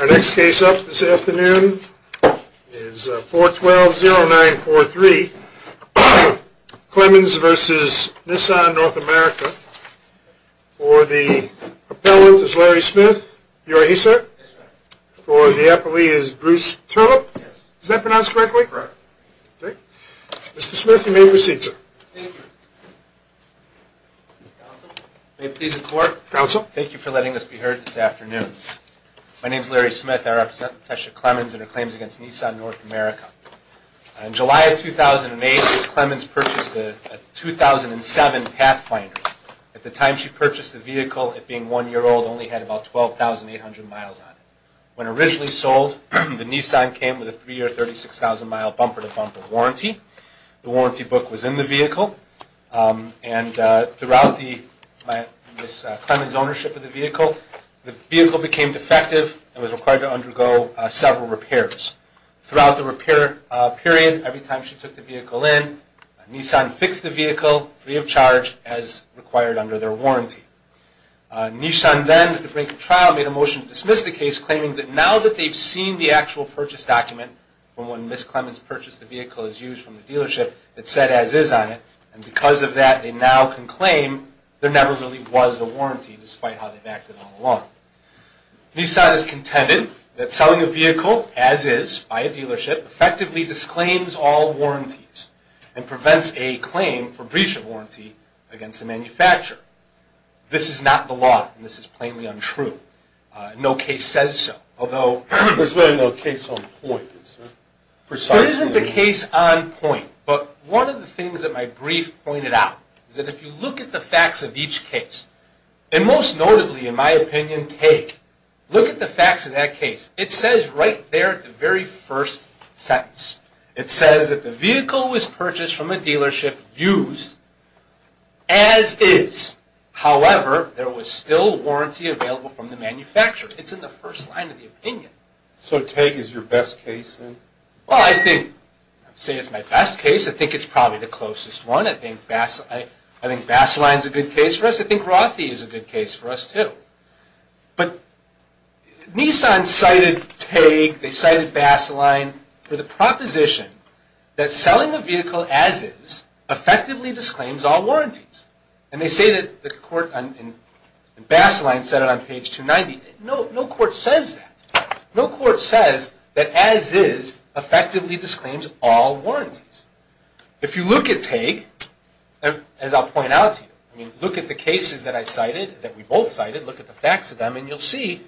Our next case up this afternoon is 412-0943 Clemons v. Nissan North America. For the appellant is Larry Smith, you are he sir? For the appellee is Bruce Turlop, is that pronounced correctly? Right. Mr. Smith, you may proceed sir. Thank you. Counsel, may it please the court. Counsel. Thank you for letting us be heard this afternoon. My name is Larry Smith, I represent Latesha Clemons and her claims against Nissan North America. In July of 2008, Ms. Clemons purchased a 2007 Pathfinder. At the time she purchased the vehicle, it being 1 year old, only had about 12,800 miles on it. When originally sold, the Nissan came with a 3 year 36,000 mile bumper to bumper warranty. The warranty book was in the vehicle. And throughout Ms. Clemons' ownership of the vehicle, the vehicle became defective and was required to undergo several repairs. Throughout the repair period, every time she took the vehicle in, Nissan fixed the vehicle free of charge as required under their warranty. Nissan then, at the brink of trial, made a motion to dismiss the case claiming that now that they've seen the actual purchase document from when Ms. Clemons purchased the vehicle as used from the dealership, it said as is on it, and because of that they now can claim there never really was a warranty despite how they've acted all along. Nissan has contended that selling a vehicle as is by a dealership effectively disclaims all warranties and prevents a claim for breach of warranty against the manufacturer. This is not the law and this is plainly untrue. No case says so. Although... There's really no case on point, is there? Precisely. There isn't a case on point, but one of the things that my brief pointed out is that if you look at the facts of each case, and most notably, in my opinion, TAG, look at the facts of that case. It says right there at the very first sentence. It says that the vehicle was purchased from a dealership used as is, however, there was still warranty available from the manufacturer. It's in the first line of the opinion. So TAG is your best case then? Well, I think... I'm not going to say it's my best case. I think it's probably the closest one. I think Baseline is a good case for us. I think Rothie is a good case for us too. But Nissan cited TAG, they cited Baseline for the proposition that selling a vehicle as is effectively disclaims all warranties. And they say that Baseline said it on page 290. No court says that. No court says that as is effectively disclaims all warranties. If you look at TAG, as I'll point out to you, look at the cases that I cited, that we both cited, look at the facts of them, and you'll see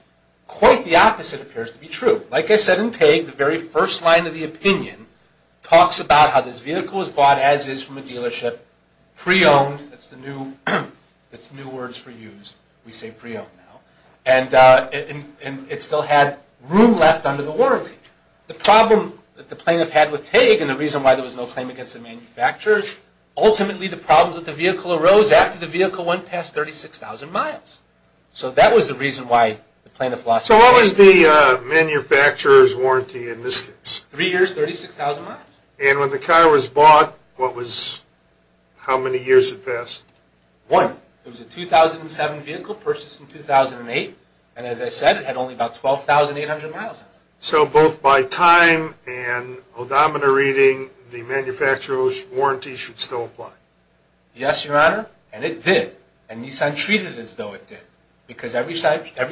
quite the opposite appears to be true. Like I said in TAG, the very first line of the opinion talks about how this vehicle was bought as is from a dealership, pre-owned, that's the new words for used, we say pre-owned and it still had room left under the warranty. The problem that the plaintiff had with TAG and the reason why there was no claim against the manufacturers, ultimately the problems with the vehicle arose after the vehicle went past 36,000 miles. So that was the reason why the plaintiff lost. So what was the manufacturer's warranty in this case? Three years, 36,000 miles. And when the car was bought, what was, how many years had passed? One. It was a 2007 vehicle purchased in 2008 and as I said, it had only about 12,800 miles on it. So both by time and odometer reading, the manufacturer's warranty should still apply? Yes, Your Honor, and it did. And Nissan treated it as though it did. Because every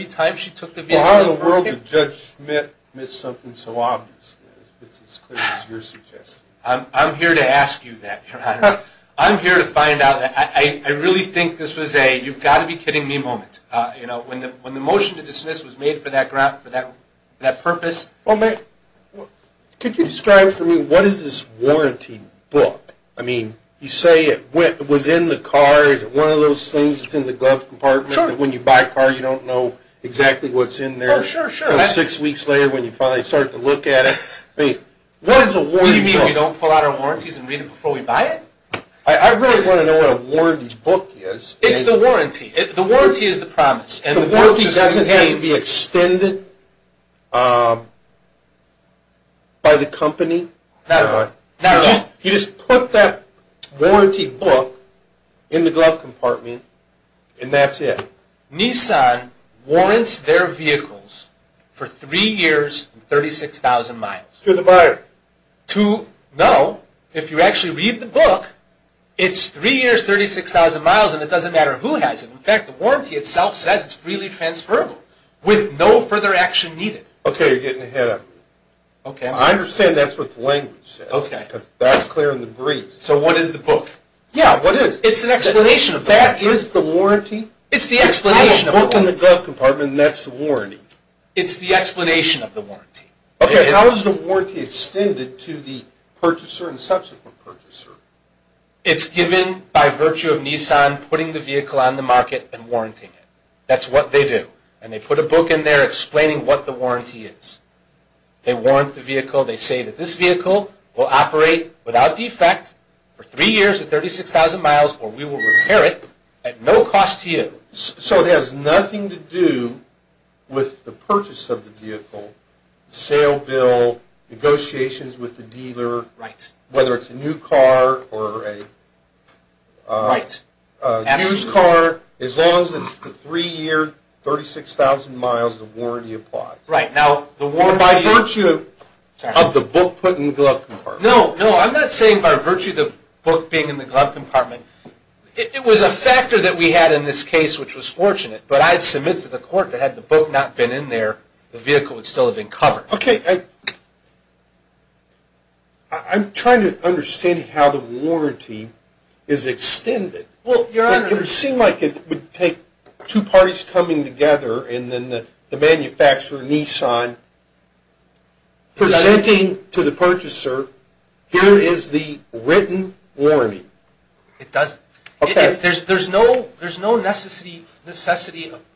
time she took the vehicle in front of her... Well how in the world did Judge Smith miss something so obvious that it's as clear as you're suggesting? I'm here to ask you that, Your Honor. I'm here to find out, I really think this was a, you've got to be kidding me moment. You know, when the motion to dismiss was made for that purpose... Well may, could you describe for me, what is this warranty book? I mean, you say it was in the car, is it one of those things that's in the glove compartment that when you buy a car, you don't know exactly what's in there until six weeks later when you finally start to look at it. I mean, what is a warranty book? What do you mean we don't pull out our warranties and read it before we buy it? I really want to know what a warranty book is. It's the warranty. The warranty is the promise. The warranty doesn't have to be extended by the company. Not at all. You just put that warranty book in the glove compartment and that's it. Nissan warrants their vehicles for three years and 36,000 miles. To the buyer. To know, if you actually read the book, it's three years, 36,000 miles, and it doesn't matter who has it. In fact, the warranty itself says it's freely transferable, with no further action needed. Okay, you're getting ahead of me. I understand that's what the language says, because that's clear in the briefs. So what is the book? Yeah, what is it? It's an explanation of the warranty. That is the warranty? It's the explanation of the warranty. It's the explanation of the warranty. Okay, how is the warranty extended to the purchaser and subsequent purchaser? It's given by virtue of Nissan putting the vehicle on the market and warranting it. That's what they do. And they put a book in there explaining what the warranty is. They warrant the vehicle. They say that this vehicle will operate without defect for three years and 36,000 miles or we will repair it at no cost to you. So it has nothing to do with the purchase of the vehicle, sale bill, negotiations with the dealer, whether it's a new car or a used car, as long as it's a three-year, 36,000 miles, the warranty applies. Or by virtue of the book put in the glove compartment. No, no, I'm not saying by virtue of the book being in the glove compartment. It was a factor that we had in this case, which was fortunate. But I've submitted to the court that had the book not been in there, the vehicle would still have been covered. Okay. I'm trying to understand how the warranty is extended. Well, Your Honor. It would seem like it would take two parties coming together and then the manufacturer, Nissan, presenting to the purchaser, here is the written warranty. It doesn't. Okay. There's no necessity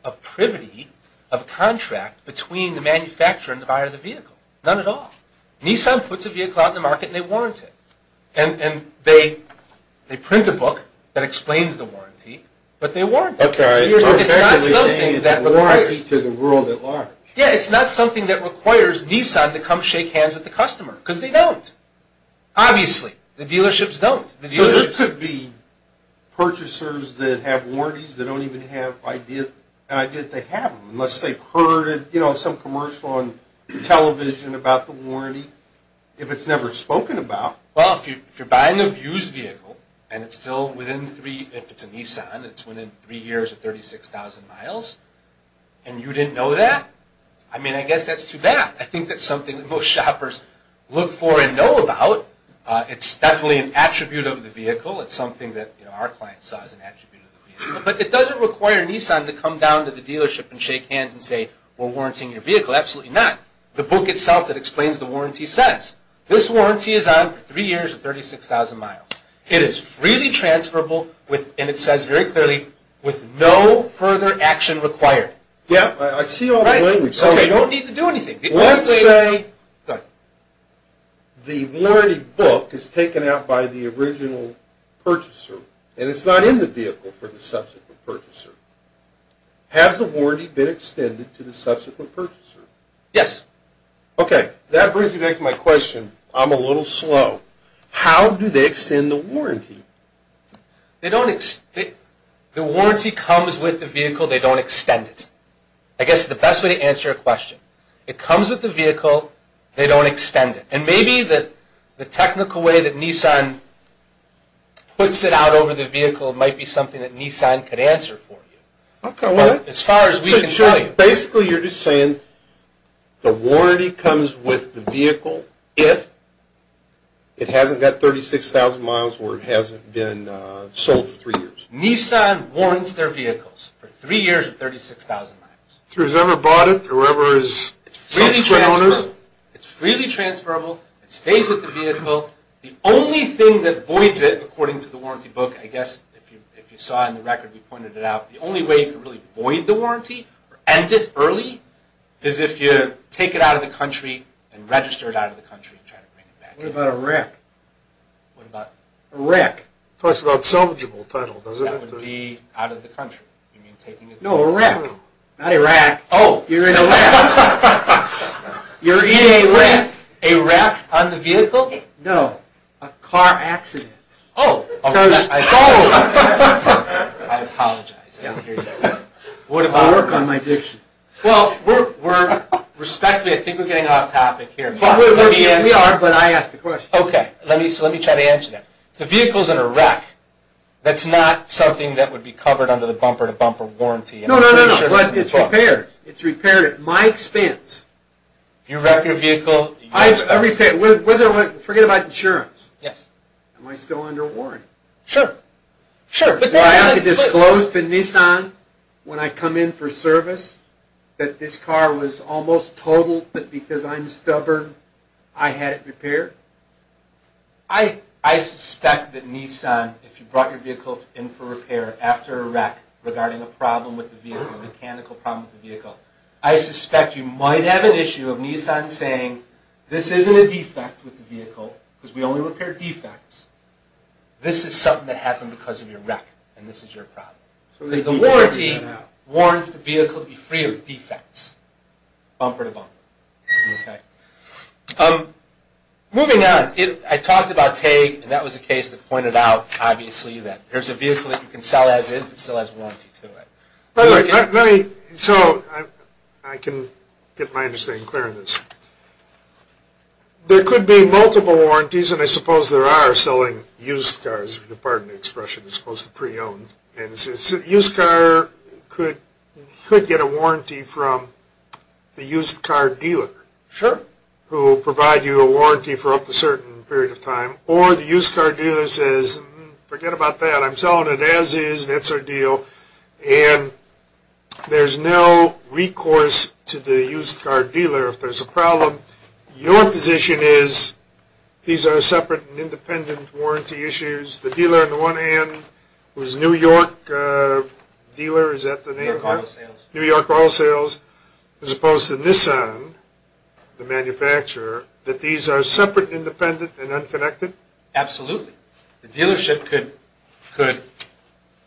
of privity of contract between the manufacturer and the buyer of the vehicle. None at all. Nissan puts a vehicle out in the market and they warrant it. And they print a book that explains the warranty, but they warrant it. Okay. So you're effectively saying it's a warranty to the world at large. Yeah, it's not something that requires Nissan to come shake hands with the customer, because they don't. Obviously. The dealerships don't. So there could be purchasers that have warranties that don't even have an idea that they have them, unless they've heard some commercial on television about the warranty, if it's never spoken about. Well, if you're buying a used vehicle and it's still within three, if it's a Nissan, it's within three years of 36,000 miles, and you didn't know that, I mean, I guess that's too bad. I think that's something that most shoppers look for and know about. It's definitely an attribute of the vehicle. It's something that our clients saw as an attribute of the vehicle. But it doesn't require Nissan to come down to the dealership and shake hands and say, we're warranting your vehicle. Absolutely not. The book itself that explains the warranty says, this warranty is on for three years of 36,000 miles. It is freely transferable, and it says very clearly, with no further action required. Yeah. I see all the language. Okay. You don't need to do anything. Let's say the warranty book is taken out by the original purchaser, and it's not in the vehicle for the subsequent purchaser. Has the warranty been extended to the subsequent purchaser? Yes. Okay. That brings me back to my question. I'm a little slow. How do they extend the warranty? The warranty comes with the vehicle. They don't extend it. I guess the best way to answer your question. It comes with the vehicle. They don't extend it. And maybe the technical way that Nissan puts it out over the vehicle might be something that Nissan could answer for you. Okay. Well, as far as we can tell you. So basically, you're just saying the warranty comes with the vehicle if it hasn't got 36,000 miles or it hasn't been sold for three years. Nissan warrants their vehicles for three years of 36,000 miles. So whoever bought it or whoever is subsequent owners. It's freely transferable. It's freely transferable. It stays with the vehicle. The only thing that voids it, according to the warranty book. I guess if you saw in the record, we pointed it out. The only way you can really void the warranty or end it early is if you take it out of the country and register it out of the country and try to bring it back in. What about a wreck? What about a wreck? It talks about salvageable title, doesn't it? That would be out of the country. You mean taking it. No, a wreck. Not a wreck. Oh. You're in a wreck. You're in a wreck. A wreck on the vehicle? A car accident. Oh. I apologize. I apologize. I don't hear you. What about. I work on my diction. Well, we're. Respectfully, I think we're getting off topic here. We are, but I asked the question. Okay. So let me try to answer that. No, no, no. No, no, no. No, no, no. No, no, no. No, no, no. No, no, no. No, no, no. But it's repaired. It's repaired at my expense. You wreck your vehicle. At my expense. I repair. Forget about insurance. Yes. Am I still under warrant? Sure. Sure. Well, I have to disclose to Nissan when I come in for service that this car was almost totaled, but because I'm stubborn, I had it repaired? I suspect that Nissan, if you brought your vehicle in for repair after a wreck regarding a problem with the vehicle, a mechanical problem with the vehicle, I suspect you might have an issue of Nissan saying, this isn't a defect with the vehicle, because we only repair defects. This is something that happened because of your wreck, and this is your problem. Because the warranty warrants the vehicle to be free of defects, bumper to bumper. Okay. Moving on. I talked about TAG, and that was a case that pointed out, obviously, that there's a vehicle that you can sell as is that still has a warranty to it. So, I can get my understanding clear on this. There could be multiple warranties, and I suppose there are, selling used cars. Pardon the expression. It's supposed to be pre-owned. A used car could get a warranty from the used car dealer. Sure. Who will provide you a warranty for up to a certain period of time, or the used car dealer says, forget about that. I'm selling it as is. That's our deal. And there's no recourse to the used car dealer if there's a problem. Your position is, these are separate and independent warranty issues. The dealer on the one hand, who's a New York dealer. Is that the name? New York Oil Sales. New York Oil Sales. As opposed to Nissan, the manufacturer, that these are separate, independent, and unconnected? Absolutely. The dealership could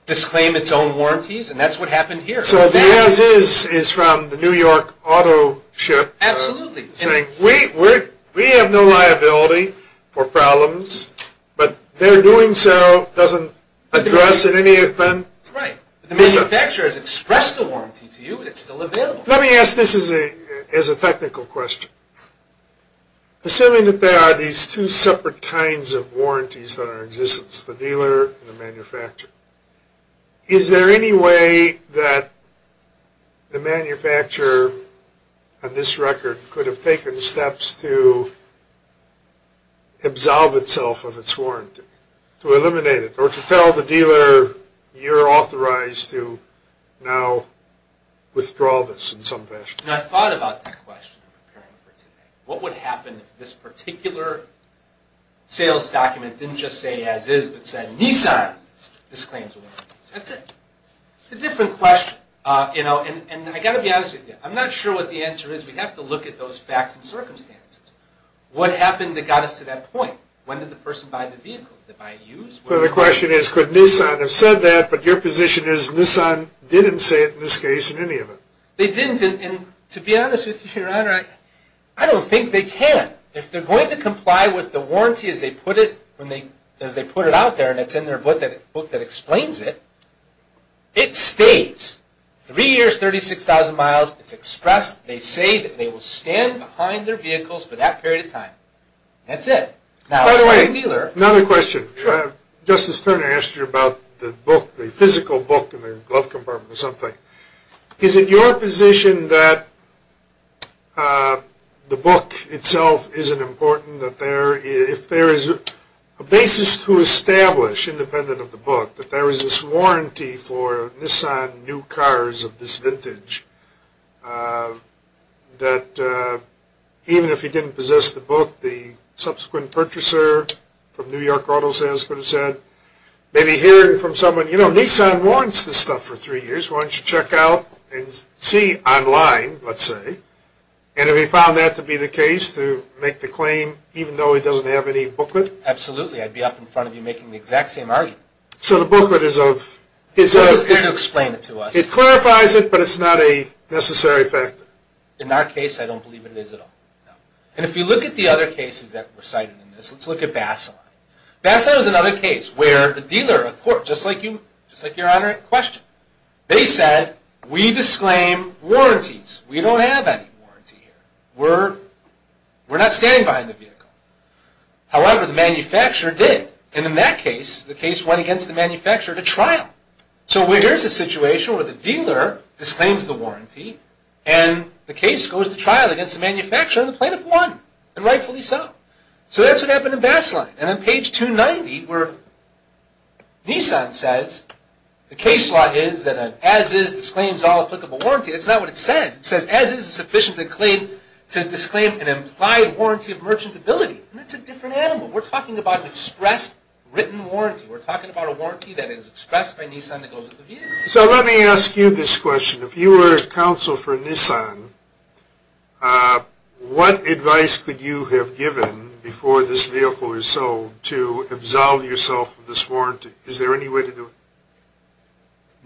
disclaim its own warranties, and that's what happened here. So, the as is is from the New York auto ship. Absolutely. Saying, we have no liability for problems, but their doing so doesn't address in any event. Right. The manufacturer has expressed the warranty to you, and it's still available. Let me ask this as a technical question. Assuming that there are these two separate kinds of warranties that are in existence, the dealer and the manufacturer, is there any way that the manufacturer, on this record, could have taken steps to absolve itself of its warranty? To eliminate it? Or to tell the dealer, you're authorized to now withdraw this in some fashion? I've thought about that question. What would happen if this particular sales document didn't just say, as is, but said, Nissan disclaims a warranty. That's it. It's a different question. I've got to be honest with you. I'm not sure what the answer is. We have to look at those facts and circumstances. What happened that got us to that point? When did the person buy the vehicle? Did they buy it used? The question is, could Nissan have said that, but your position is, Nissan didn't say it in this case, in any of them. They didn't, and to be honest with you, Your Honor, I don't think they can. If they're going to comply with the warranty as they put it out there, and it's in their book that explains it, it stays three years, 36,000 miles. It's expressed. They say that they will stand behind their vehicles for that period of time. That's it. By the way, another question. Sure. Justice Turner asked you about the physical book in the glove compartment or something. Is it your position that the book itself isn't important, that if there is a basis to establish independent of the book, that there is this warranty for Nissan new cars of this vintage, that even if he didn't possess the book, the subsequent purchaser from New York auto sales could have said, maybe hearing from someone, you know, Nissan warrants this stuff for three years. Why don't you check out and see online, let's say, and if he found that to be the case, to make the claim, even though he doesn't have any booklet? Absolutely. I'd be up in front of you making the exact same argument. So the booklet is of... It's there to explain it to us. It clarifies it, but it's not a necessary factor. In our case, I don't believe it is at all. And if you look at the other cases that were cited in this, let's look at Baseline. Baseline was another case where a dealer, a court, just like you, they said, we disclaim warranties. We don't have any warranty here. We're not standing behind the vehicle. However, the manufacturer did. And in that case, the case went against the manufacturer to trial. So here's a situation where the dealer disclaims the warranty, and the case goes to trial against the manufacturer and the plaintiff won, and rightfully so. So that's what happened in Baseline. And on page 290, where Nissan says, the case law is that an as-is disclaims all applicable warranty. That's not what it says. It says, as-is is sufficient to disclaim an implied warranty of merchantability. And that's a different animal. We're talking about an expressed written warranty. We're talking about a warranty that is expressed by Nissan that goes with the vehicle. So let me ask you this question. If you were counsel for Nissan, what advice could you have given before this vehicle was sold to absolve yourself of this warranty? Is there any way to do it?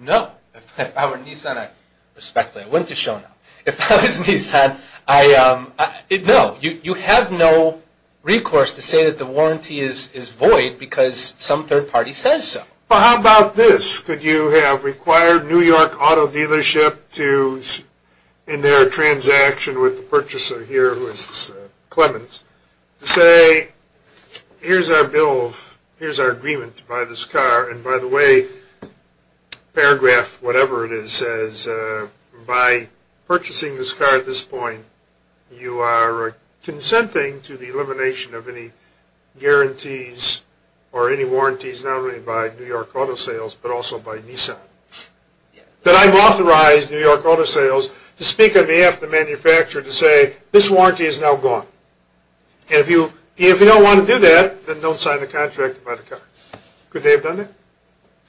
No. If I were Nissan, I respect that. It wouldn't have shown up. If I was Nissan, I, no, you have no recourse to say that the warranty is void because some third party says so. Well, how about this? Could you have required New York Auto Dealership to, in their transaction with the purchaser here, who is Clemens, to say, here's our bill, here's our agreement to buy this car, and by the way, paragraph whatever it is says, by purchasing this car at this point, you are consenting to the elimination of any guarantees or any warranties, not only by New York Auto Sales but also by Nissan, that I've authorized New York Auto Sales to speak on behalf of the manufacturer to say, this warranty is now gone. And if you don't want to do that, then don't sign the contract to buy the car. Could they have done that?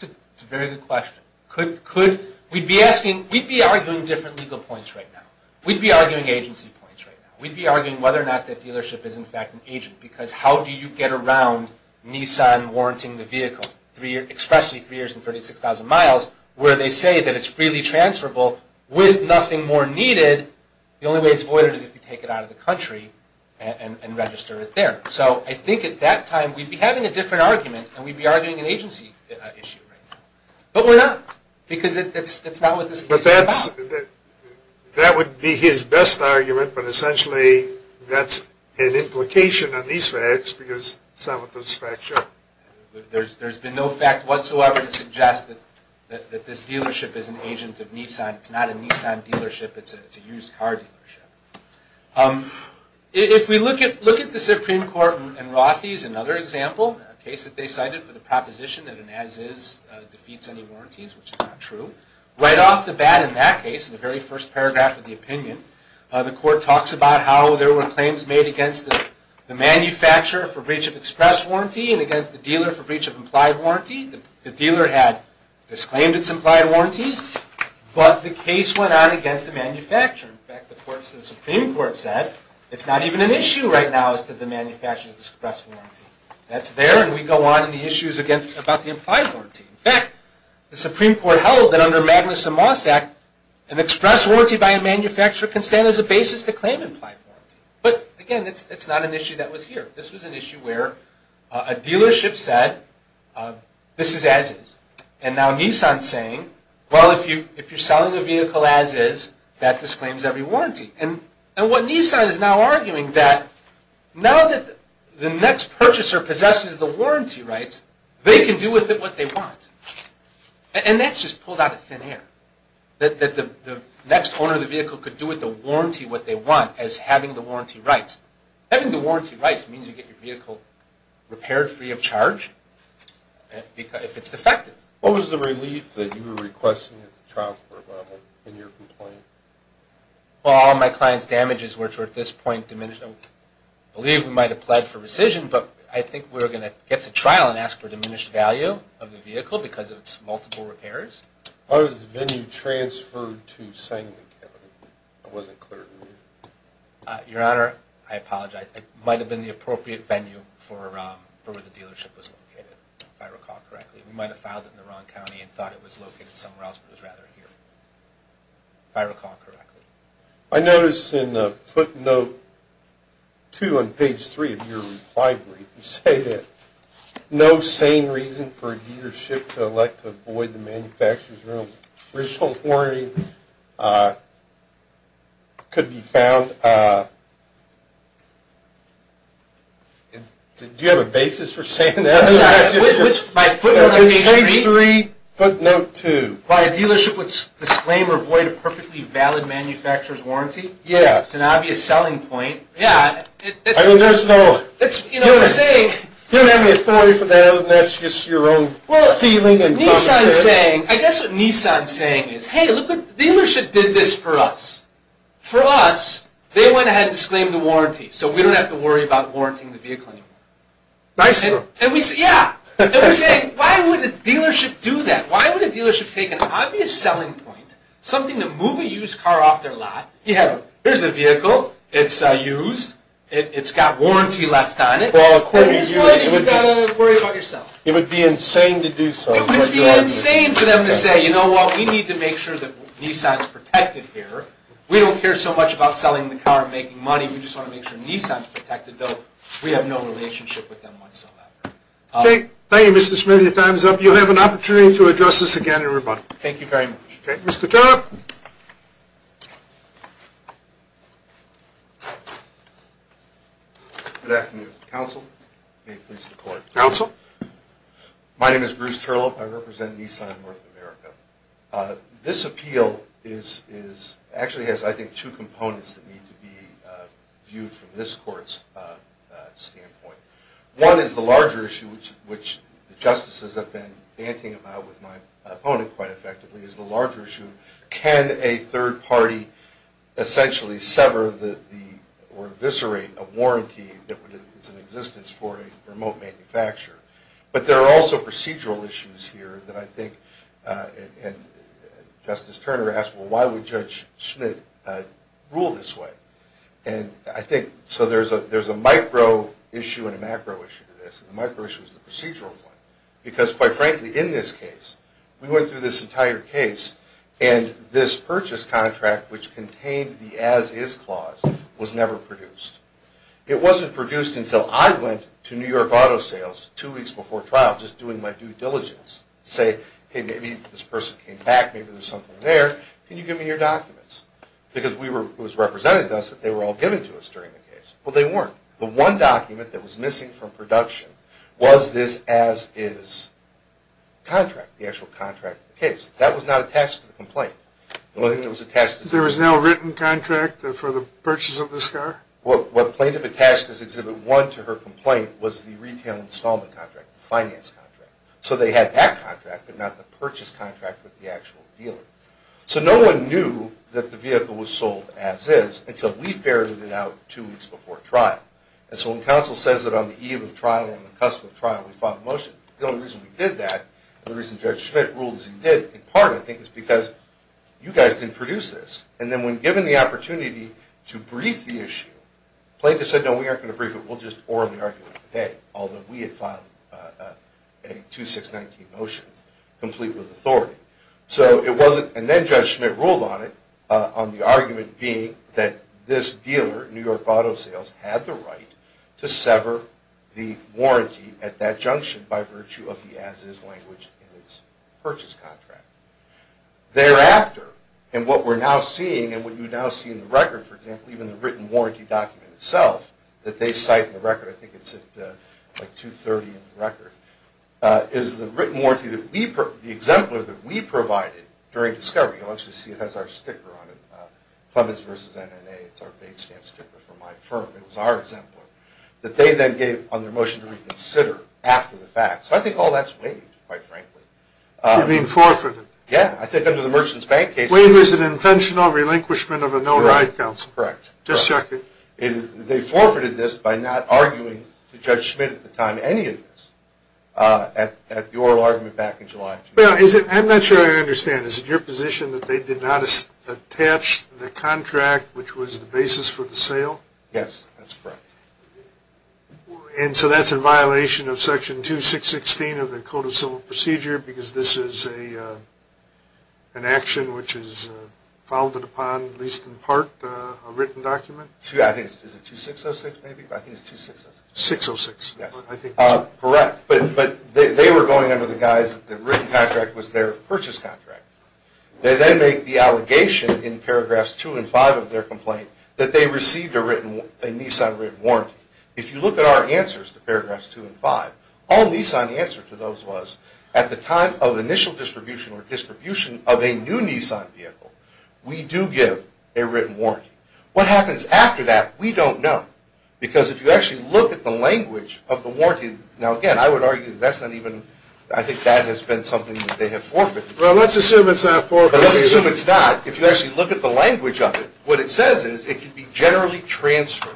That's a very good question. We'd be arguing different legal points right now. We'd be arguing agency points right now. We'd be arguing whether or not that dealership is in fact an agent because how do you get around Nissan warranting the vehicle, expressly three years and 36,000 miles, where they say that it's freely transferable with nothing more needed. The only way it's voided is if you take it out of the country and register it there. So I think at that time we'd be having a different argument, and we'd be arguing an agency issue right now. But we're not because it's not what this case is about. That would be his best argument, but essentially that's an implication on these facts because some of the facts show. There's been no fact whatsoever to suggest that this dealership is an agent of Nissan. It's not a Nissan dealership. It's a used car dealership. If we look at the Supreme Court in Rothi's, another example, a case that they cited for the proposition that an as-is defeats any warranties, which is not true. Right off the bat in that case, in the very first paragraph of the opinion, the court talks about how there were claims made against the manufacturer for breach of express warranty and against the dealer for breach of implied warranty. The dealer had disclaimed its implied warranties, but the case went on against the manufacturer. In fact, the Supreme Court said, it's not even an issue right now as to the manufacturer's express warranty. That's there, and we go on in the issues about the implied warranty. In fact, the Supreme Court held that under Magnuson-Moss Act, an express warranty by a manufacturer can stand as a basis to claim implied warranty. But again, it's not an issue that was here. This was an issue where a dealership said, this is as-is. And now Nissan's saying, well, if you're selling a vehicle as-is, that disclaims every warranty. And what Nissan is now arguing is that now that the next purchaser possesses the warranty rights, they can do with it what they want. And that's just pulled out of thin air. That the next owner of the vehicle could do with the warranty what they want as having the warranty rights. Having the warranty rights means you get your vehicle repaired free of charge if it's defective. What was the relief that you were requesting at the trial court level in your complaint? Well, all my client's damages, which were at this point diminished. I believe we might have pled for rescission, but I think we're going to get to trial and ask for diminished value of the vehicle because of its multiple repairs. How was the venue transferred to Sangley County? That wasn't clear to me. Your Honor, I apologize. It might have been the appropriate venue for where the dealership was located, if I recall correctly. We might have filed it in the wrong county and thought it was located somewhere else, but it was rather here, if I recall correctly. I notice in footnote 2 on page 3 of your reply brief, you say that no sane reason for a dealership to elect to avoid the manufacturer's warranty could be found. Do you have a basis for saying that? In page 3, footnote 2. By a dealership would disclaim or avoid a perfectly valid manufacturer's warranty? Yes. It's an obvious selling point. You don't have any authority for that. That's just your own feeling. I guess what Nissan is saying is, hey, look, the dealership did this for us. For us, they went ahead and disclaimed the warranty, so we don't have to worry about warranting the vehicle anymore. Nice of them. Yeah. And we're saying, why would a dealership do that? Why would a dealership take an obvious selling point, something to move a used car off their lot, Here's a vehicle. It's used. It's got warranty left on it. Well, according to you, you've got to worry about yourself. It would be insane to do so. It would be insane for them to say, you know what, we need to make sure that Nissan is protected here. We don't care so much about selling the car and making money. We just want to make sure Nissan is protected, though we have no relationship with them whatsoever. Okay. Thank you, Mr. Smith. Your time is up. You have an opportunity to address this again in rebuttal. Thank you very much. Okay. Mr. Turlough. Good afternoon, counsel. May it please the court. Counsel. My name is Bruce Turlough. I represent Nissan North America. This appeal actually has, I think, two components that need to be viewed from this court's standpoint. One is the larger issue, which the justices have been banting about with my opponent quite effectively, is the larger issue, can a third party essentially sever or eviscerate a warranty that is in existence for a remote manufacturer. But there are also procedural issues here that I think, and Justice Turner asked, well, why would Judge Schmidt rule this way? And I think so there's a micro issue and a macro issue to this, and the micro issue is the procedural one. Because, quite frankly, in this case, we went through this entire case and this purchase contract, which contained the as-is clause, was never produced. It wasn't produced until I went to New York auto sales two weeks before trial, just doing my due diligence to say, hey, maybe this person came back, maybe there's something there, can you give me your documents? Because it was represented to us that they were all given to us during the case. Well, they weren't. The one document that was missing from production was this as-is contract, the actual contract of the case. That was not attached to the complaint. The only thing that was attached to the complaint. There was no written contract for the purchase of this car? Well, what plaintiff attached as Exhibit 1 to her complaint was the retail installment contract, the finance contract. So they had that contract but not the purchase contract with the actual dealer. So no one knew that the vehicle was sold as-is until we ferreted it out two weeks before trial. And so when counsel says that on the eve of trial, on the cusp of trial, we filed a motion, the only reason we did that, the reason Judge Schmidt ruled as he did, in part, I think, is because you guys didn't produce this. And then when given the opportunity to brief the issue, plaintiff said, no, we aren't going to brief it, we'll just orally argue it today, although we had filed a 2619 motion, complete with authority. So it wasn't, and then Judge Schmidt ruled on it, on the argument being that this dealer, New York Auto Sales, had the right to sever the warranty at that junction by virtue of the as-is language in its purchase contract. Thereafter, and what we're now seeing, and what you now see in the record, for example, even the written warranty document itself, that they cite in the record, I think it's at 230 in the record, is the written warranty, the exemplar that we provided during discovery, you'll actually see it has our sticker on it, Clemens vs. M&A, it's our base stamp sticker for my firm, it was our exemplar, that they then gave on their motion to reconsider after the fact. So I think all that's waived, quite frankly. You mean forfeited? Yeah, I think under the Merchant's Bank case... Waive is an intentional relinquishment of a known right, counsel. Correct. Just checking. They forfeited this by not arguing to Judge Schmidt at the time, any of this, at the oral argument back in July. I'm not sure I understand. Is it your position that they did not attach the contract, which was the basis for the sale? Yes, that's correct. And so that's in violation of Section 2616 of the Code of Civil Procedure because this is an action which is founded upon, at least in part, a written document? I think it's 2606, maybe, but I think it's 2606. Correct, but they were going under the guise that the written contract was their purchase contract. They then make the allegation in paragraphs 2 and 5 of their complaint that they received a Nissan written warranty. If you look at our answers to paragraphs 2 and 5, all Nissan answered to those was, at the time of initial distribution or distribution of a new Nissan vehicle, we do give a written warranty. What happens after that, we don't know because if you actually look at the language of the warranty, now again, I would argue that's not even, I think that has been something that they have forfeited. Well, let's assume it's not forfeited. Let's assume it's not. If you actually look at the language of it, what it says is it can be generally transferred.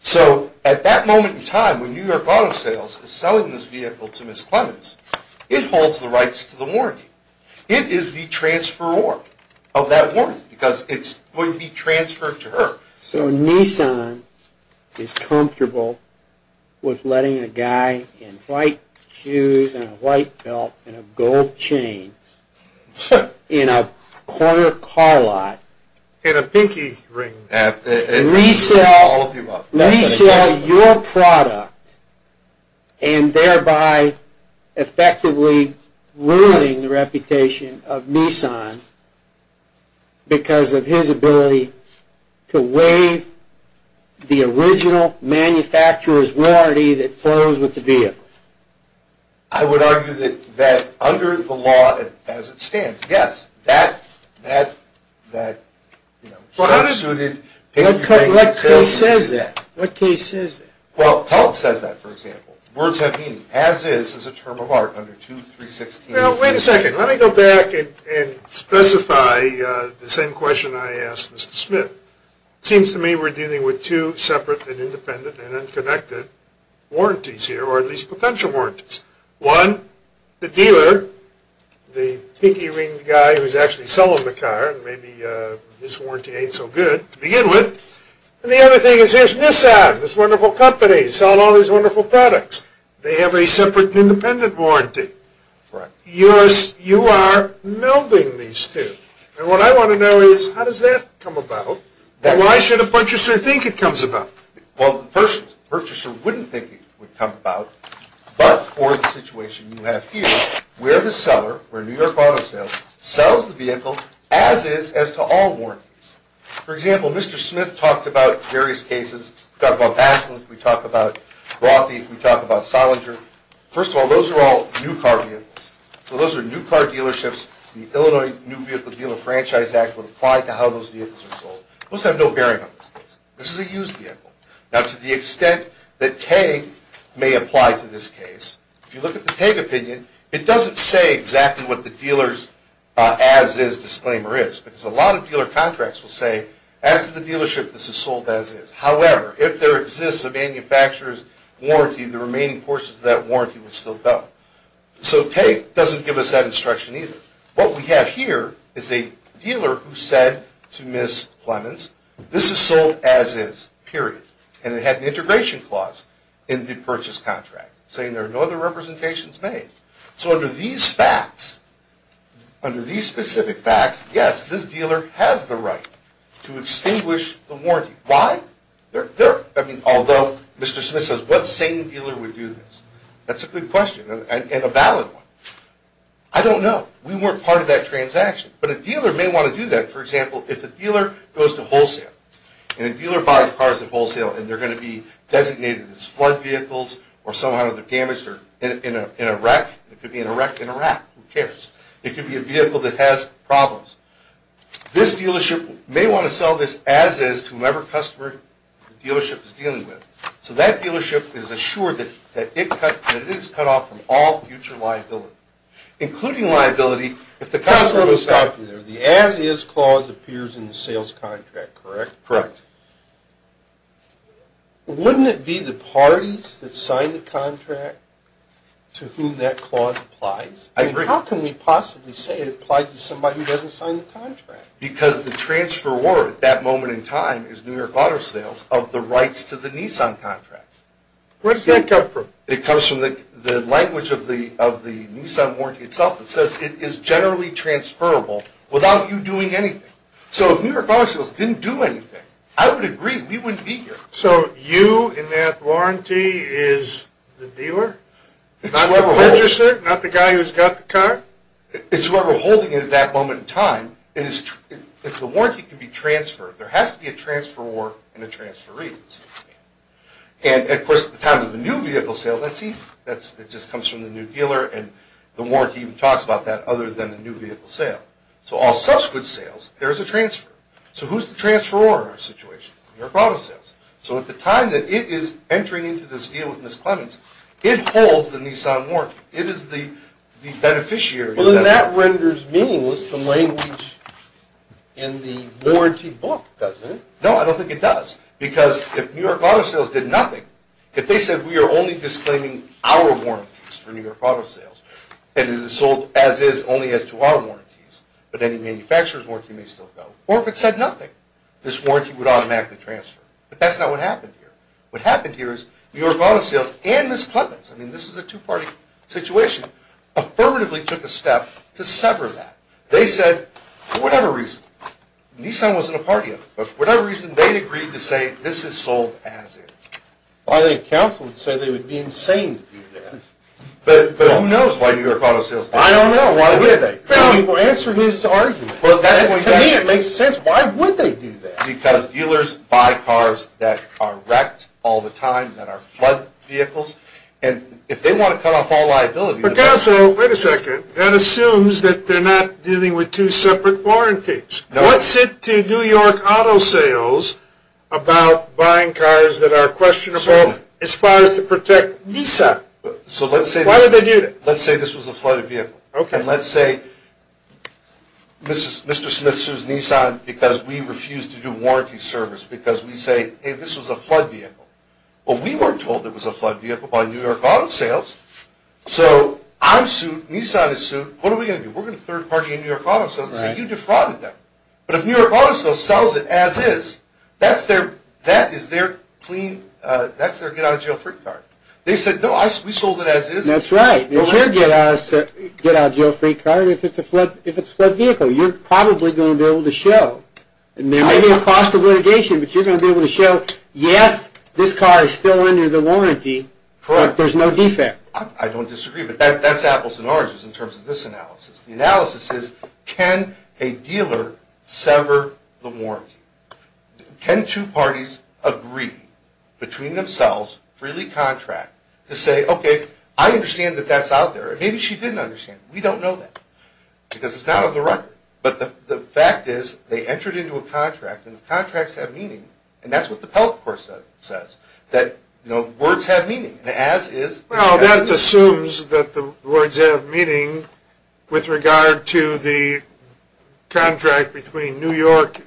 So at that moment in time when New York Auto Sales is selling this vehicle to Ms. Clements, it holds the rights to the warranty. It is the transferor of that warranty because it's going to be transferred to her. So Nissan is comfortable with letting a guy in white shoes and a white belt and a gold chain in a corner car lot resell your product and thereby effectively ruining the reputation of Nissan because of his ability to waive the original manufacturer's warranty that goes with the vehicle. I would argue that under the law as it stands, yes, that should be suited. What case says that? Well, PELC says that, for example. Words have meaning. As is is a term of art under 2.316. Now, wait a second. Let me go back and specify the same question I asked Mr. Smith. It seems to me we're dealing with two separate and independent and unconnected warranties here, or at least potential warranties. One, the dealer, the pinky-ringed guy who's actually selling the car, and maybe this warranty ain't so good to begin with, and the other thing is here's Nissan, this wonderful company, selling all these wonderful products. They have a separate and independent warranty. You are melding these two. And what I want to know is how does that come about and why should a purchaser think it comes about? Well, the purchaser wouldn't think it would come about, but for the situation you have here where the seller, where New York Auto Sales, sells the vehicle as is as to all warranties. For example, Mr. Smith talked about various cases. We talk about Basslin, we talk about Rothi, we talk about Salinger. First of all, those are all new car vehicles. So those are new car dealerships. The Illinois New Vehicle Dealer Franchise Act would apply to how those vehicles are sold. Most have no bearing on this case. This is a used vehicle. Now, to the extent that TAG may apply to this case, if you look at the TAG opinion, it doesn't say exactly what the dealer's as is disclaimer is because a lot of dealer contracts will say as to the dealership this is sold as is. However, if there exists a manufacturer's warranty, the remaining portions of that warranty will still go. So TAG doesn't give us that instruction either. What we have here is a dealer who said to Ms. Clemens, this is sold as is, period. And it had an integration clause in the purchase contract saying there are no other representations made. So under these facts, under these specific facts, yes, this dealer has the right to extinguish the warranty. Why? I mean, although Mr. Smith says what sane dealer would do this? That's a good question and a valid one. I don't know. We weren't part of that transaction. But a dealer may want to do that. For example, if a dealer goes to wholesale and a dealer buys cars at wholesale and they're going to be designated as flood vehicles or somehow they're damaged in a wreck. It could be in a wreck in Iraq. Who cares? It could be a vehicle that has problems. This dealership may want to sell this as is to whomever customer the dealership is dealing with. So that dealership is assured that it is cut off from all future liability, including liability if the customer goes back. The as is clause appears in the sales contract, correct? Correct. Wouldn't it be the parties that signed the contract to whom that clause applies? I agree. How can we possibly say it applies to somebody who doesn't sign the contract? Because the transfer warrant at that moment in time is New York Auto Sales of the rights to the Nissan contract. Where does that come from? It comes from the language of the Nissan warranty itself. It says it is generally transferable without you doing anything. So if New York Auto Sales didn't do anything, I would agree. We wouldn't be here. So you in that warranty is the dealer? Not the purchaser? Not the guy who's got the car? It's whoever is holding it at that moment in time. If the warranty can be transferred, there has to be a transferor and a transferee. And, of course, at the time of the new vehicle sale, that's easy. It just comes from the new dealer, and the warranty even talks about that other than the new vehicle sale. So all subsequent sales, there's a transferor. So who's the transferor in our situation? New York Auto Sales. So at the time that it is entering into this deal with Miss Clemens, it holds the Nissan warranty. It is the beneficiary. Well, then that renders meaning with some language in the warranty book, doesn't it? No, I don't think it does. Because if New York Auto Sales did nothing, if they said we are only disclaiming our warranties for New York Auto Sales, and it is sold as is only as to our warranties, but any manufacturer's warranty may still go, or if it said nothing, this warranty would automatically transfer. But that's not what happened here. What happened here is New York Auto Sales and Miss Clemens, I mean, this is a two-party situation, affirmatively took a step to sever that. They said, for whatever reason, Nissan wasn't a party of it, but for whatever reason, they agreed to say this is sold as is. Well, I think counsel would say they would be insane to do that. But who knows why New York Auto Sales did that? I don't know. Why would they? People answer who's to argue. To me, it makes sense. Why would they do that? Because dealers buy cars that are wrecked all the time, that are flood vehicles, and if they want to cut off all liability... But counsel, wait a second. That assumes that they're not dealing with two separate warranties. No. What's it to New York Auto Sales about buying cars that are questionable as far as to protect Nissan? So let's say... Why would they do that? Let's say this was a flooded vehicle. Okay. And let's say Mr. Smith sues Nissan because we refuse to do warranty service, because we say, hey, this was a flood vehicle. Well, we weren't told it was a flood vehicle by New York Auto Sales. So I'm sued, Nissan is sued. What are we going to do? We're going to third-party a New York Auto Sales and say you defrauded them. But if New York Auto Sales sells it as is, that is their get-out-of-jail-free card. They said, no, we sold it as is. That's right. It's your get-out-of-jail-free card if it's a flood vehicle. You're probably going to be able to show. It may be a cost of litigation, but you're going to be able to show, yes, this car is still under the warranty, but there's no defect. I don't disagree, but that's apples and oranges in terms of this analysis. The analysis is, can a dealer sever the warranty? Can two parties agree between themselves, freely contract, to say, okay, I understand that that's out there. Maybe she didn't understand. We don't know that because it's not on the record. But the fact is they entered into a contract, and the contracts have meaning. And that's what the Pell course says, that words have meaning, as is. Well, that assumes that the words have meaning with regard to the contract between New York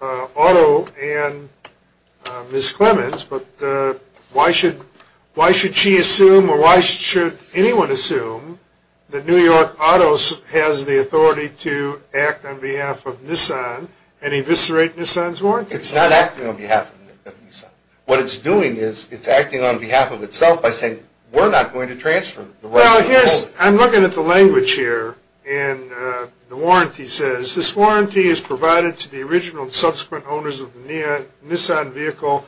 Auto and Ms. Clements. But why should she assume, or why should anyone assume, that New York Auto has the authority to act on behalf of Nissan and eviscerate Nissan's warranty? It's not acting on behalf of Nissan. What it's doing is it's acting on behalf of itself by saying, we're not going to transfer the rights of the vehicle. Well, I'm looking at the language here, and the warranty says, this warranty is provided to the original and subsequent owners of the Nissan vehicle,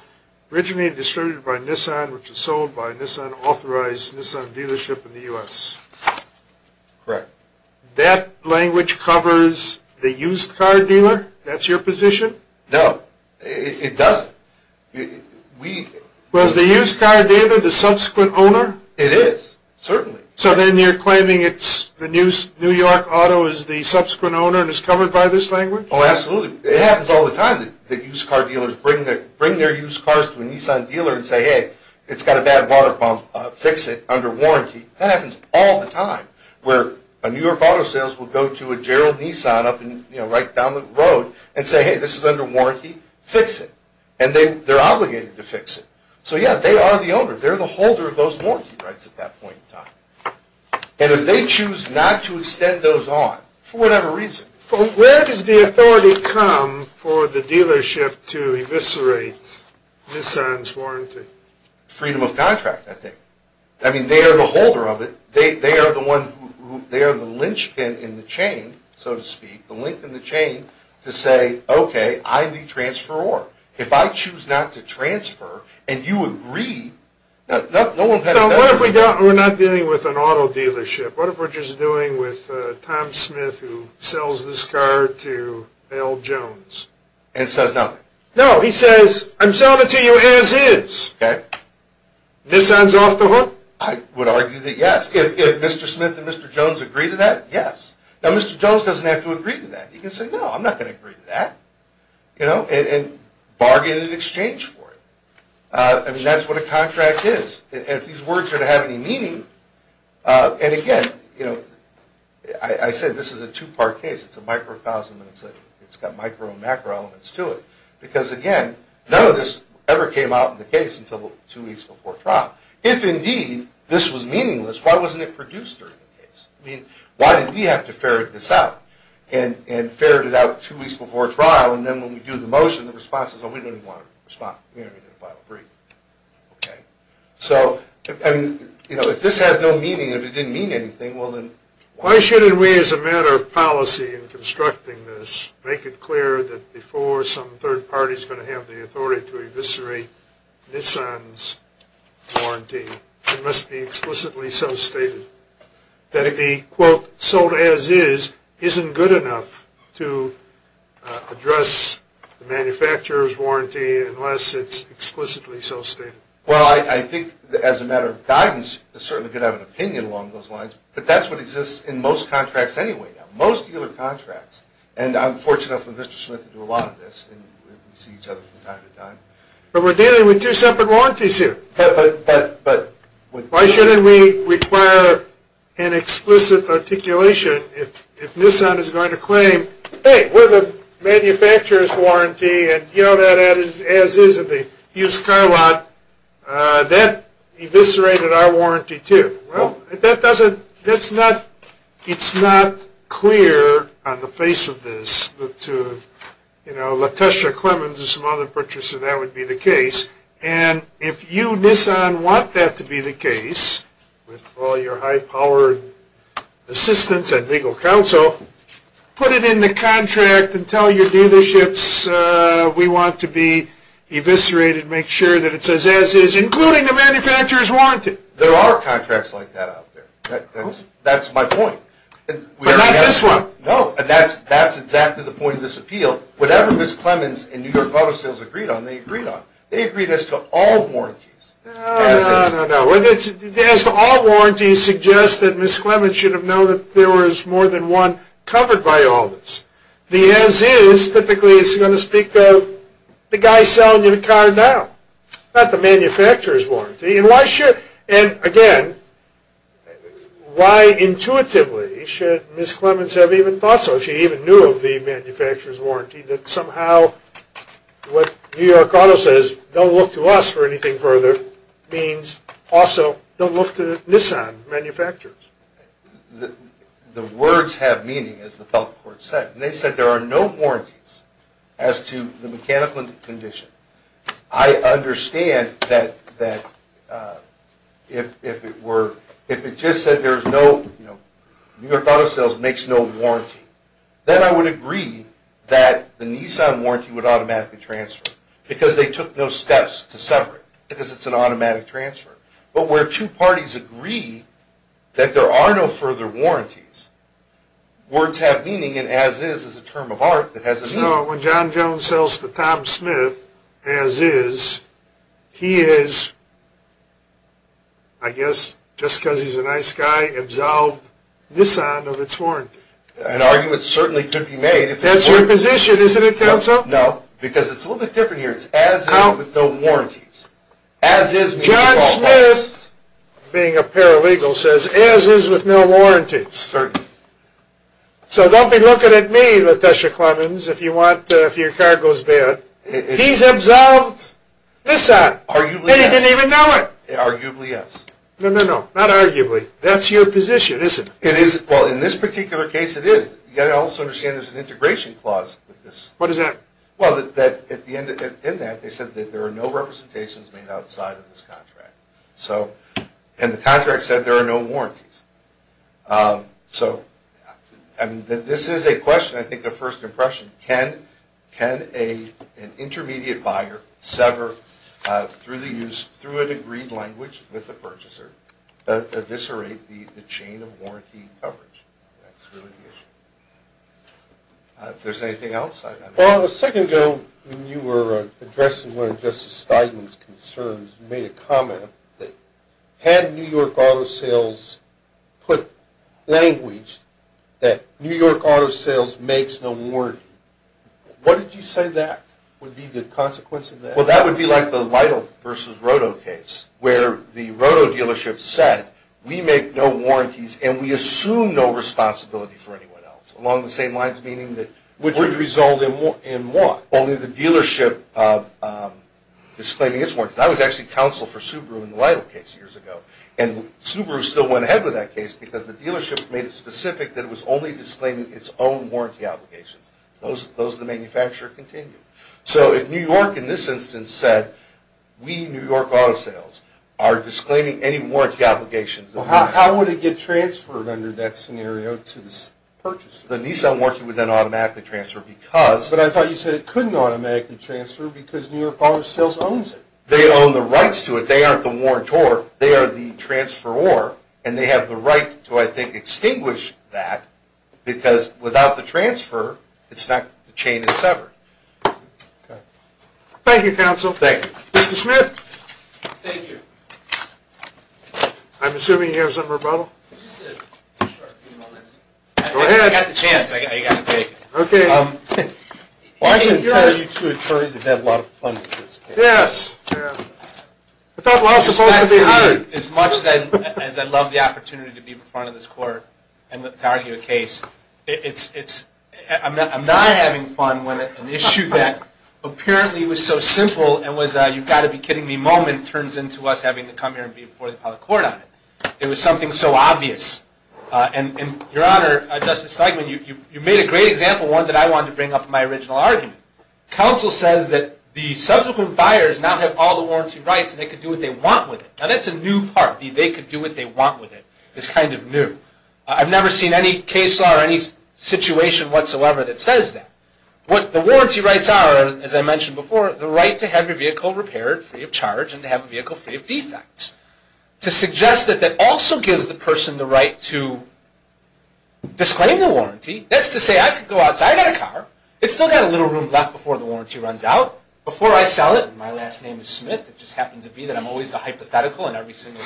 originally distributed by Nissan, which is sold by Nissan-authorized Nissan dealership in the U.S. Correct. That language covers the used car dealer? That's your position? No, it doesn't. Was the used car dealer the subsequent owner? It is, certainly. So then you're claiming New York Auto is the subsequent owner and it's covered by this language? Oh, absolutely. It happens all the time that used car dealers bring their used cars to a Nissan dealer and say, hey, it's got a bad water pump, fix it under warranty. That happens all the time, where a New York Auto sales will go to a Gerald Nissan up and right down the road and say, hey, this is under warranty, fix it. And they're obligated to fix it. So, yeah, they are the owner. They're the holder of those warranty rights at that point in time. And if they choose not to extend those on, for whatever reason. Where does the authority come for the dealership to eviscerate Nissan's warranty? Freedom of contract, I think. I mean, they are the holder of it. They are the one who they are the linchpin in the chain, so to speak, the link in the chain to say, okay, I'm the transferor. What if we're not dealing with an auto dealership? What if we're just dealing with Tom Smith who sells this car to Al Jones? And says nothing? No, he says, I'm selling it to you as is. Okay. Nissan's off the hook? I would argue that yes. If Mr. Smith and Mr. Jones agree to that, yes. Now, Mr. Jones doesn't have to agree to that. He can say, no, I'm not going to agree to that. You know, and bargain in exchange for it. I mean, that's what a contract is. And if these words are to have any meaning, and again, you know, I said this is a two-part case. It's a microcosm, and it's got micro and macro elements to it. Because, again, none of this ever came out in the case until two weeks before trial. If, indeed, this was meaningless, why wasn't it produced during the case? I mean, why did we have to ferret this out and ferret it out two weeks before trial, and then when we do the motion, the response is, oh, we didn't want to respond. We didn't want to file a brief. Okay. So, I mean, you know, if this has no meaning, if it didn't mean anything, well, then why shouldn't we, as a matter of policy in constructing this, make it clear that before some third party is going to have the authority to eviscerate Nissan's warranty, it must be explicitly so stated that the, quote, sold as is isn't good enough to address the manufacturer's warranty unless it's explicitly so stated. Well, I think, as a matter of guidance, it's certainly good to have an opinion along those lines, but that's what exists in most contracts anyway now, most dealer contracts. And I'm fortunate enough with Mr. Smith to do a lot of this, and we see each other from time to time. But we're dealing with two separate warranties here. But why shouldn't we require an explicit articulation if Nissan is going to claim, hey, we're the manufacturer's warranty, and, you know, that as is in the used car lot, that eviscerated our warranty too. Well, that doesn't, that's not, it's not clear on the face of this that to, you know, LaTosha, Clemens, and some other purchasers, that would be the case. And if you, Nissan, want that to be the case, with all your high-powered assistance and legal counsel, put it in the contract and tell your dealerships we want to be eviscerated, make sure that it says as is, including the manufacturer's warranty. There are contracts like that out there. That's my point. But not this one. No, and that's exactly the point of this appeal. Whatever Ms. Clemens and New York Auto Sales agreed on, they agreed on. They agreed as to all warranties. No, no, no, no. As to all warranties suggests that Ms. Clemens should have known that there was more than one covered by all this. The as is typically is going to speak of the guy selling you the car now, not the manufacturer's warranty. And why should, and again, why intuitively should Ms. Clemens have even thought so, if she even knew of the manufacturer's warranty, that somehow what New York Auto says, don't look to us for anything further, it means also don't look to Nissan manufacturers. The words have meaning, as the public court said. They said there are no warranties as to the mechanical condition. I understand that if it were, if it just said New York Auto Sales makes no warranty, then I would agree that the Nissan warranty would automatically transfer, because they took no steps to sever it, because it's an automatic transfer. But where two parties agree that there are no further warranties, words have meaning and as is is a term of art that has a meaning. No, when John Jones sells to Tom Smith, as is, he is, I guess, just because he's a nice guy, absolved Nissan of its warranty. An argument certainly could be made. That's your position, isn't it, counsel? No, because it's a little bit different here. It's as is with no warranties. John Smith, being a paralegal, says as is with no warranties. Certainly. So don't be looking at me, Latesha Clemons, if your car goes bad. He's absolved Nissan, and he didn't even know it. Arguably, yes. No, no, no, not arguably. That's your position, isn't it? Well, in this particular case, it is. You've got to also understand there's an integration clause with this. What is that? Well, in that, they said that there are no representations made outside of this contract. And the contract said there are no warranties. So this is a question, I think, of first impression. Can an intermediate buyer sever, through an agreed language with the purchaser, eviscerate the chain of warranty coverage? That's really the issue. If there's anything else? Well, a second ago, when you were addressing one of Justice Steidman's concerns, you made a comment that had New York auto sales put language that New York auto sales makes no warranty. What did you say that would be the consequence of that? Well, that would be like the Lytle v. Roto case, where the Roto dealership said, we make no warranties, and we assume no responsibility for anyone else. Along the same lines, meaning that it would result in what? Only the dealership disclaiming its warranties. I was actually counsel for Subaru in the Lytle case years ago, and Subaru still went ahead with that case because the dealership made it specific that it was only disclaiming its own warranty obligations. Those the manufacturer continued. So if New York, in this instance, said, we, New York auto sales, are disclaiming any warranty obligations. How would it get transferred under that scenario to the purchaser? The Nissan warranty would then automatically transfer because... But I thought you said it couldn't automatically transfer because New York auto sales owns it. They own the rights to it. They aren't the warrantor. They are the transferor, and they have the right to, I think, extinguish that, because without the transfer, the chain is severed. Thank you, counsel. Mr. Smith. Thank you. I'm assuming you have something rebuttal. Just a short few moments. Go ahead. I got the chance. I got to take it. I can tell you two attorneys have had a lot of fun with this case. Yes. I thought we were all supposed to be hired. As much as I love the opportunity to be in front of this court and to argue a case, it's... I'm not having fun with an issue that apparently was so simple and was a, you've got to be kidding me moment, turns into us having to come here and be in front of the public court on it. It was something so obvious. And, Your Honor, Justice Steigman, you made a great example, one that I wanted to bring up in my original argument. Counsel says that the subsequent buyers now have all the warranty rights, and they can do what they want with it. Now, that's a new part, the they could do what they want with it. It's kind of new. I've never seen any case law or any situation whatsoever that says that. What the warranty rights are, as I mentioned before, the right to have your vehicle repaired, free of charge, and to have a vehicle free of defects. To suggest that that also gives the person the right to disclaim the warranty, that's to say I could go outside, I've got a car, it's still got a little room left before the warranty runs out. Before I sell it, and my last name is Smith, it just happens to be that I'm always the hypothetical in every single...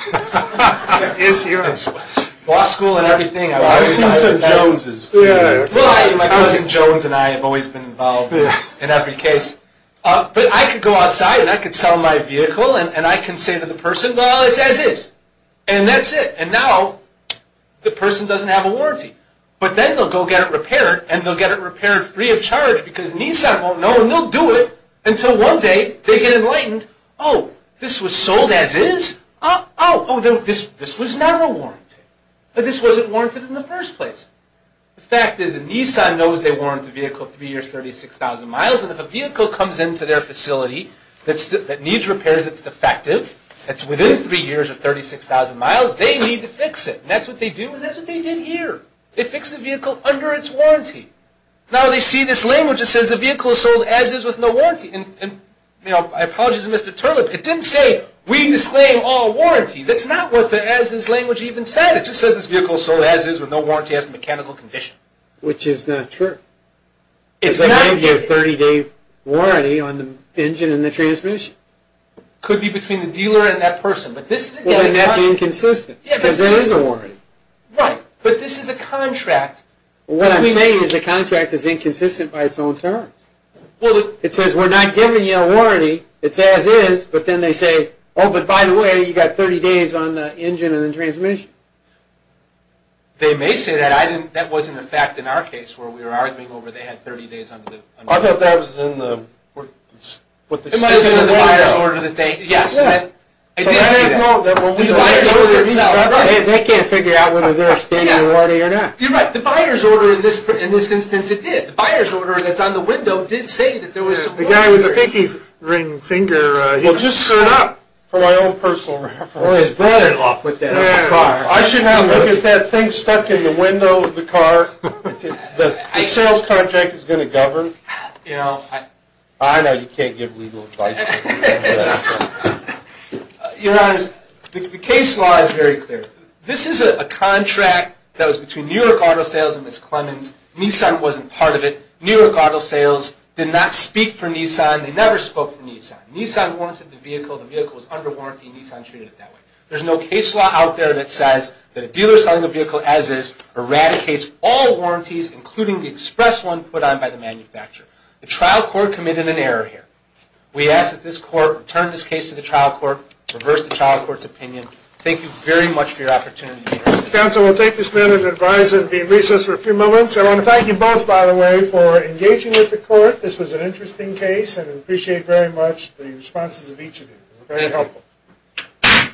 Law school and everything... Well, I've seen some Joneses, too. Well, my cousin Jones and I have always been involved in every case. But I could go outside, and I could sell my vehicle, and I can say to the person, well, it's as is. And that's it. And now the person doesn't have a warranty. But then they'll go get it repaired, and they'll get it repaired free of charge, because Nissan won't know, and they'll do it, until one day they get enlightened, oh, this was sold as is? Oh, oh, this was never warranted. This wasn't warranted in the first place. The fact is that Nissan knows they warrant the vehicle three years, 36,000 miles, and if a vehicle comes into their facility that needs repairs that's defective, that's within three years of 36,000 miles, they need to fix it. And that's what they do, and that's what they did here. They fixed the vehicle under its warranty. Now they see this language that says the vehicle is sold as is with no warranty. And, you know, I apologize to Mr. Turley, but look, it didn't say we disclaim all warranties. It's not what the as is language even said. It just says this vehicle is sold as is with no warranty as a mechanical condition. Which is not true. It's not. Because they didn't give a 30-day warranty on the engine and the transmission. It could be between the dealer and that person, but this is a guarantee. Well, then that's inconsistent, because there is a warranty. Right, but this is a contract. What I'm saying is the contract is inconsistent by its own terms. It says we're not giving you a warranty. It's as is, but then they say, oh, but by the way, you've got 30 days on the engine and the transmission. They may say that. That wasn't a fact in our case where we were arguing over they had 30 days on the engine. I thought that was in the, what the state of the order. It might have been in the buyer's order that they, yes. I did see that. The buyer's order itself. They can't figure out whether they're a state of the order or not. You're right. The buyer's order in this instance, it did. The buyer's order that's on the window did say that there was a warranty. The guy with the pinky ring finger, he just stood up for my own personal reference. Boy, his brother-in-law put that on the car. I should not look at that thing stuck in the window of the car. The sales contract is going to govern. I know you can't give legal advice. Your Honors, the case law is very clear. This is a contract that was between New York Auto Sales and Ms. Clemmons. Nissan wasn't part of it. New York Auto Sales did not speak for Nissan. They never spoke for Nissan. Nissan warranted the vehicle. The vehicle was under warranty. Nissan treated it that way. There's no case law out there that says that a dealer selling a vehicle as is eradicates all warranties, including the express one put on by the manufacturer. The trial court committed an error here. We ask that this court return this case to the trial court, reverse the trial court's opinion. Thank you very much for your opportunity. Counsel, we'll take this minute and advise and be in recess for a few moments. I want to thank you both, by the way, for engaging with the court. This was an interesting case, and I appreciate very much the responses of each of you. Very helpful.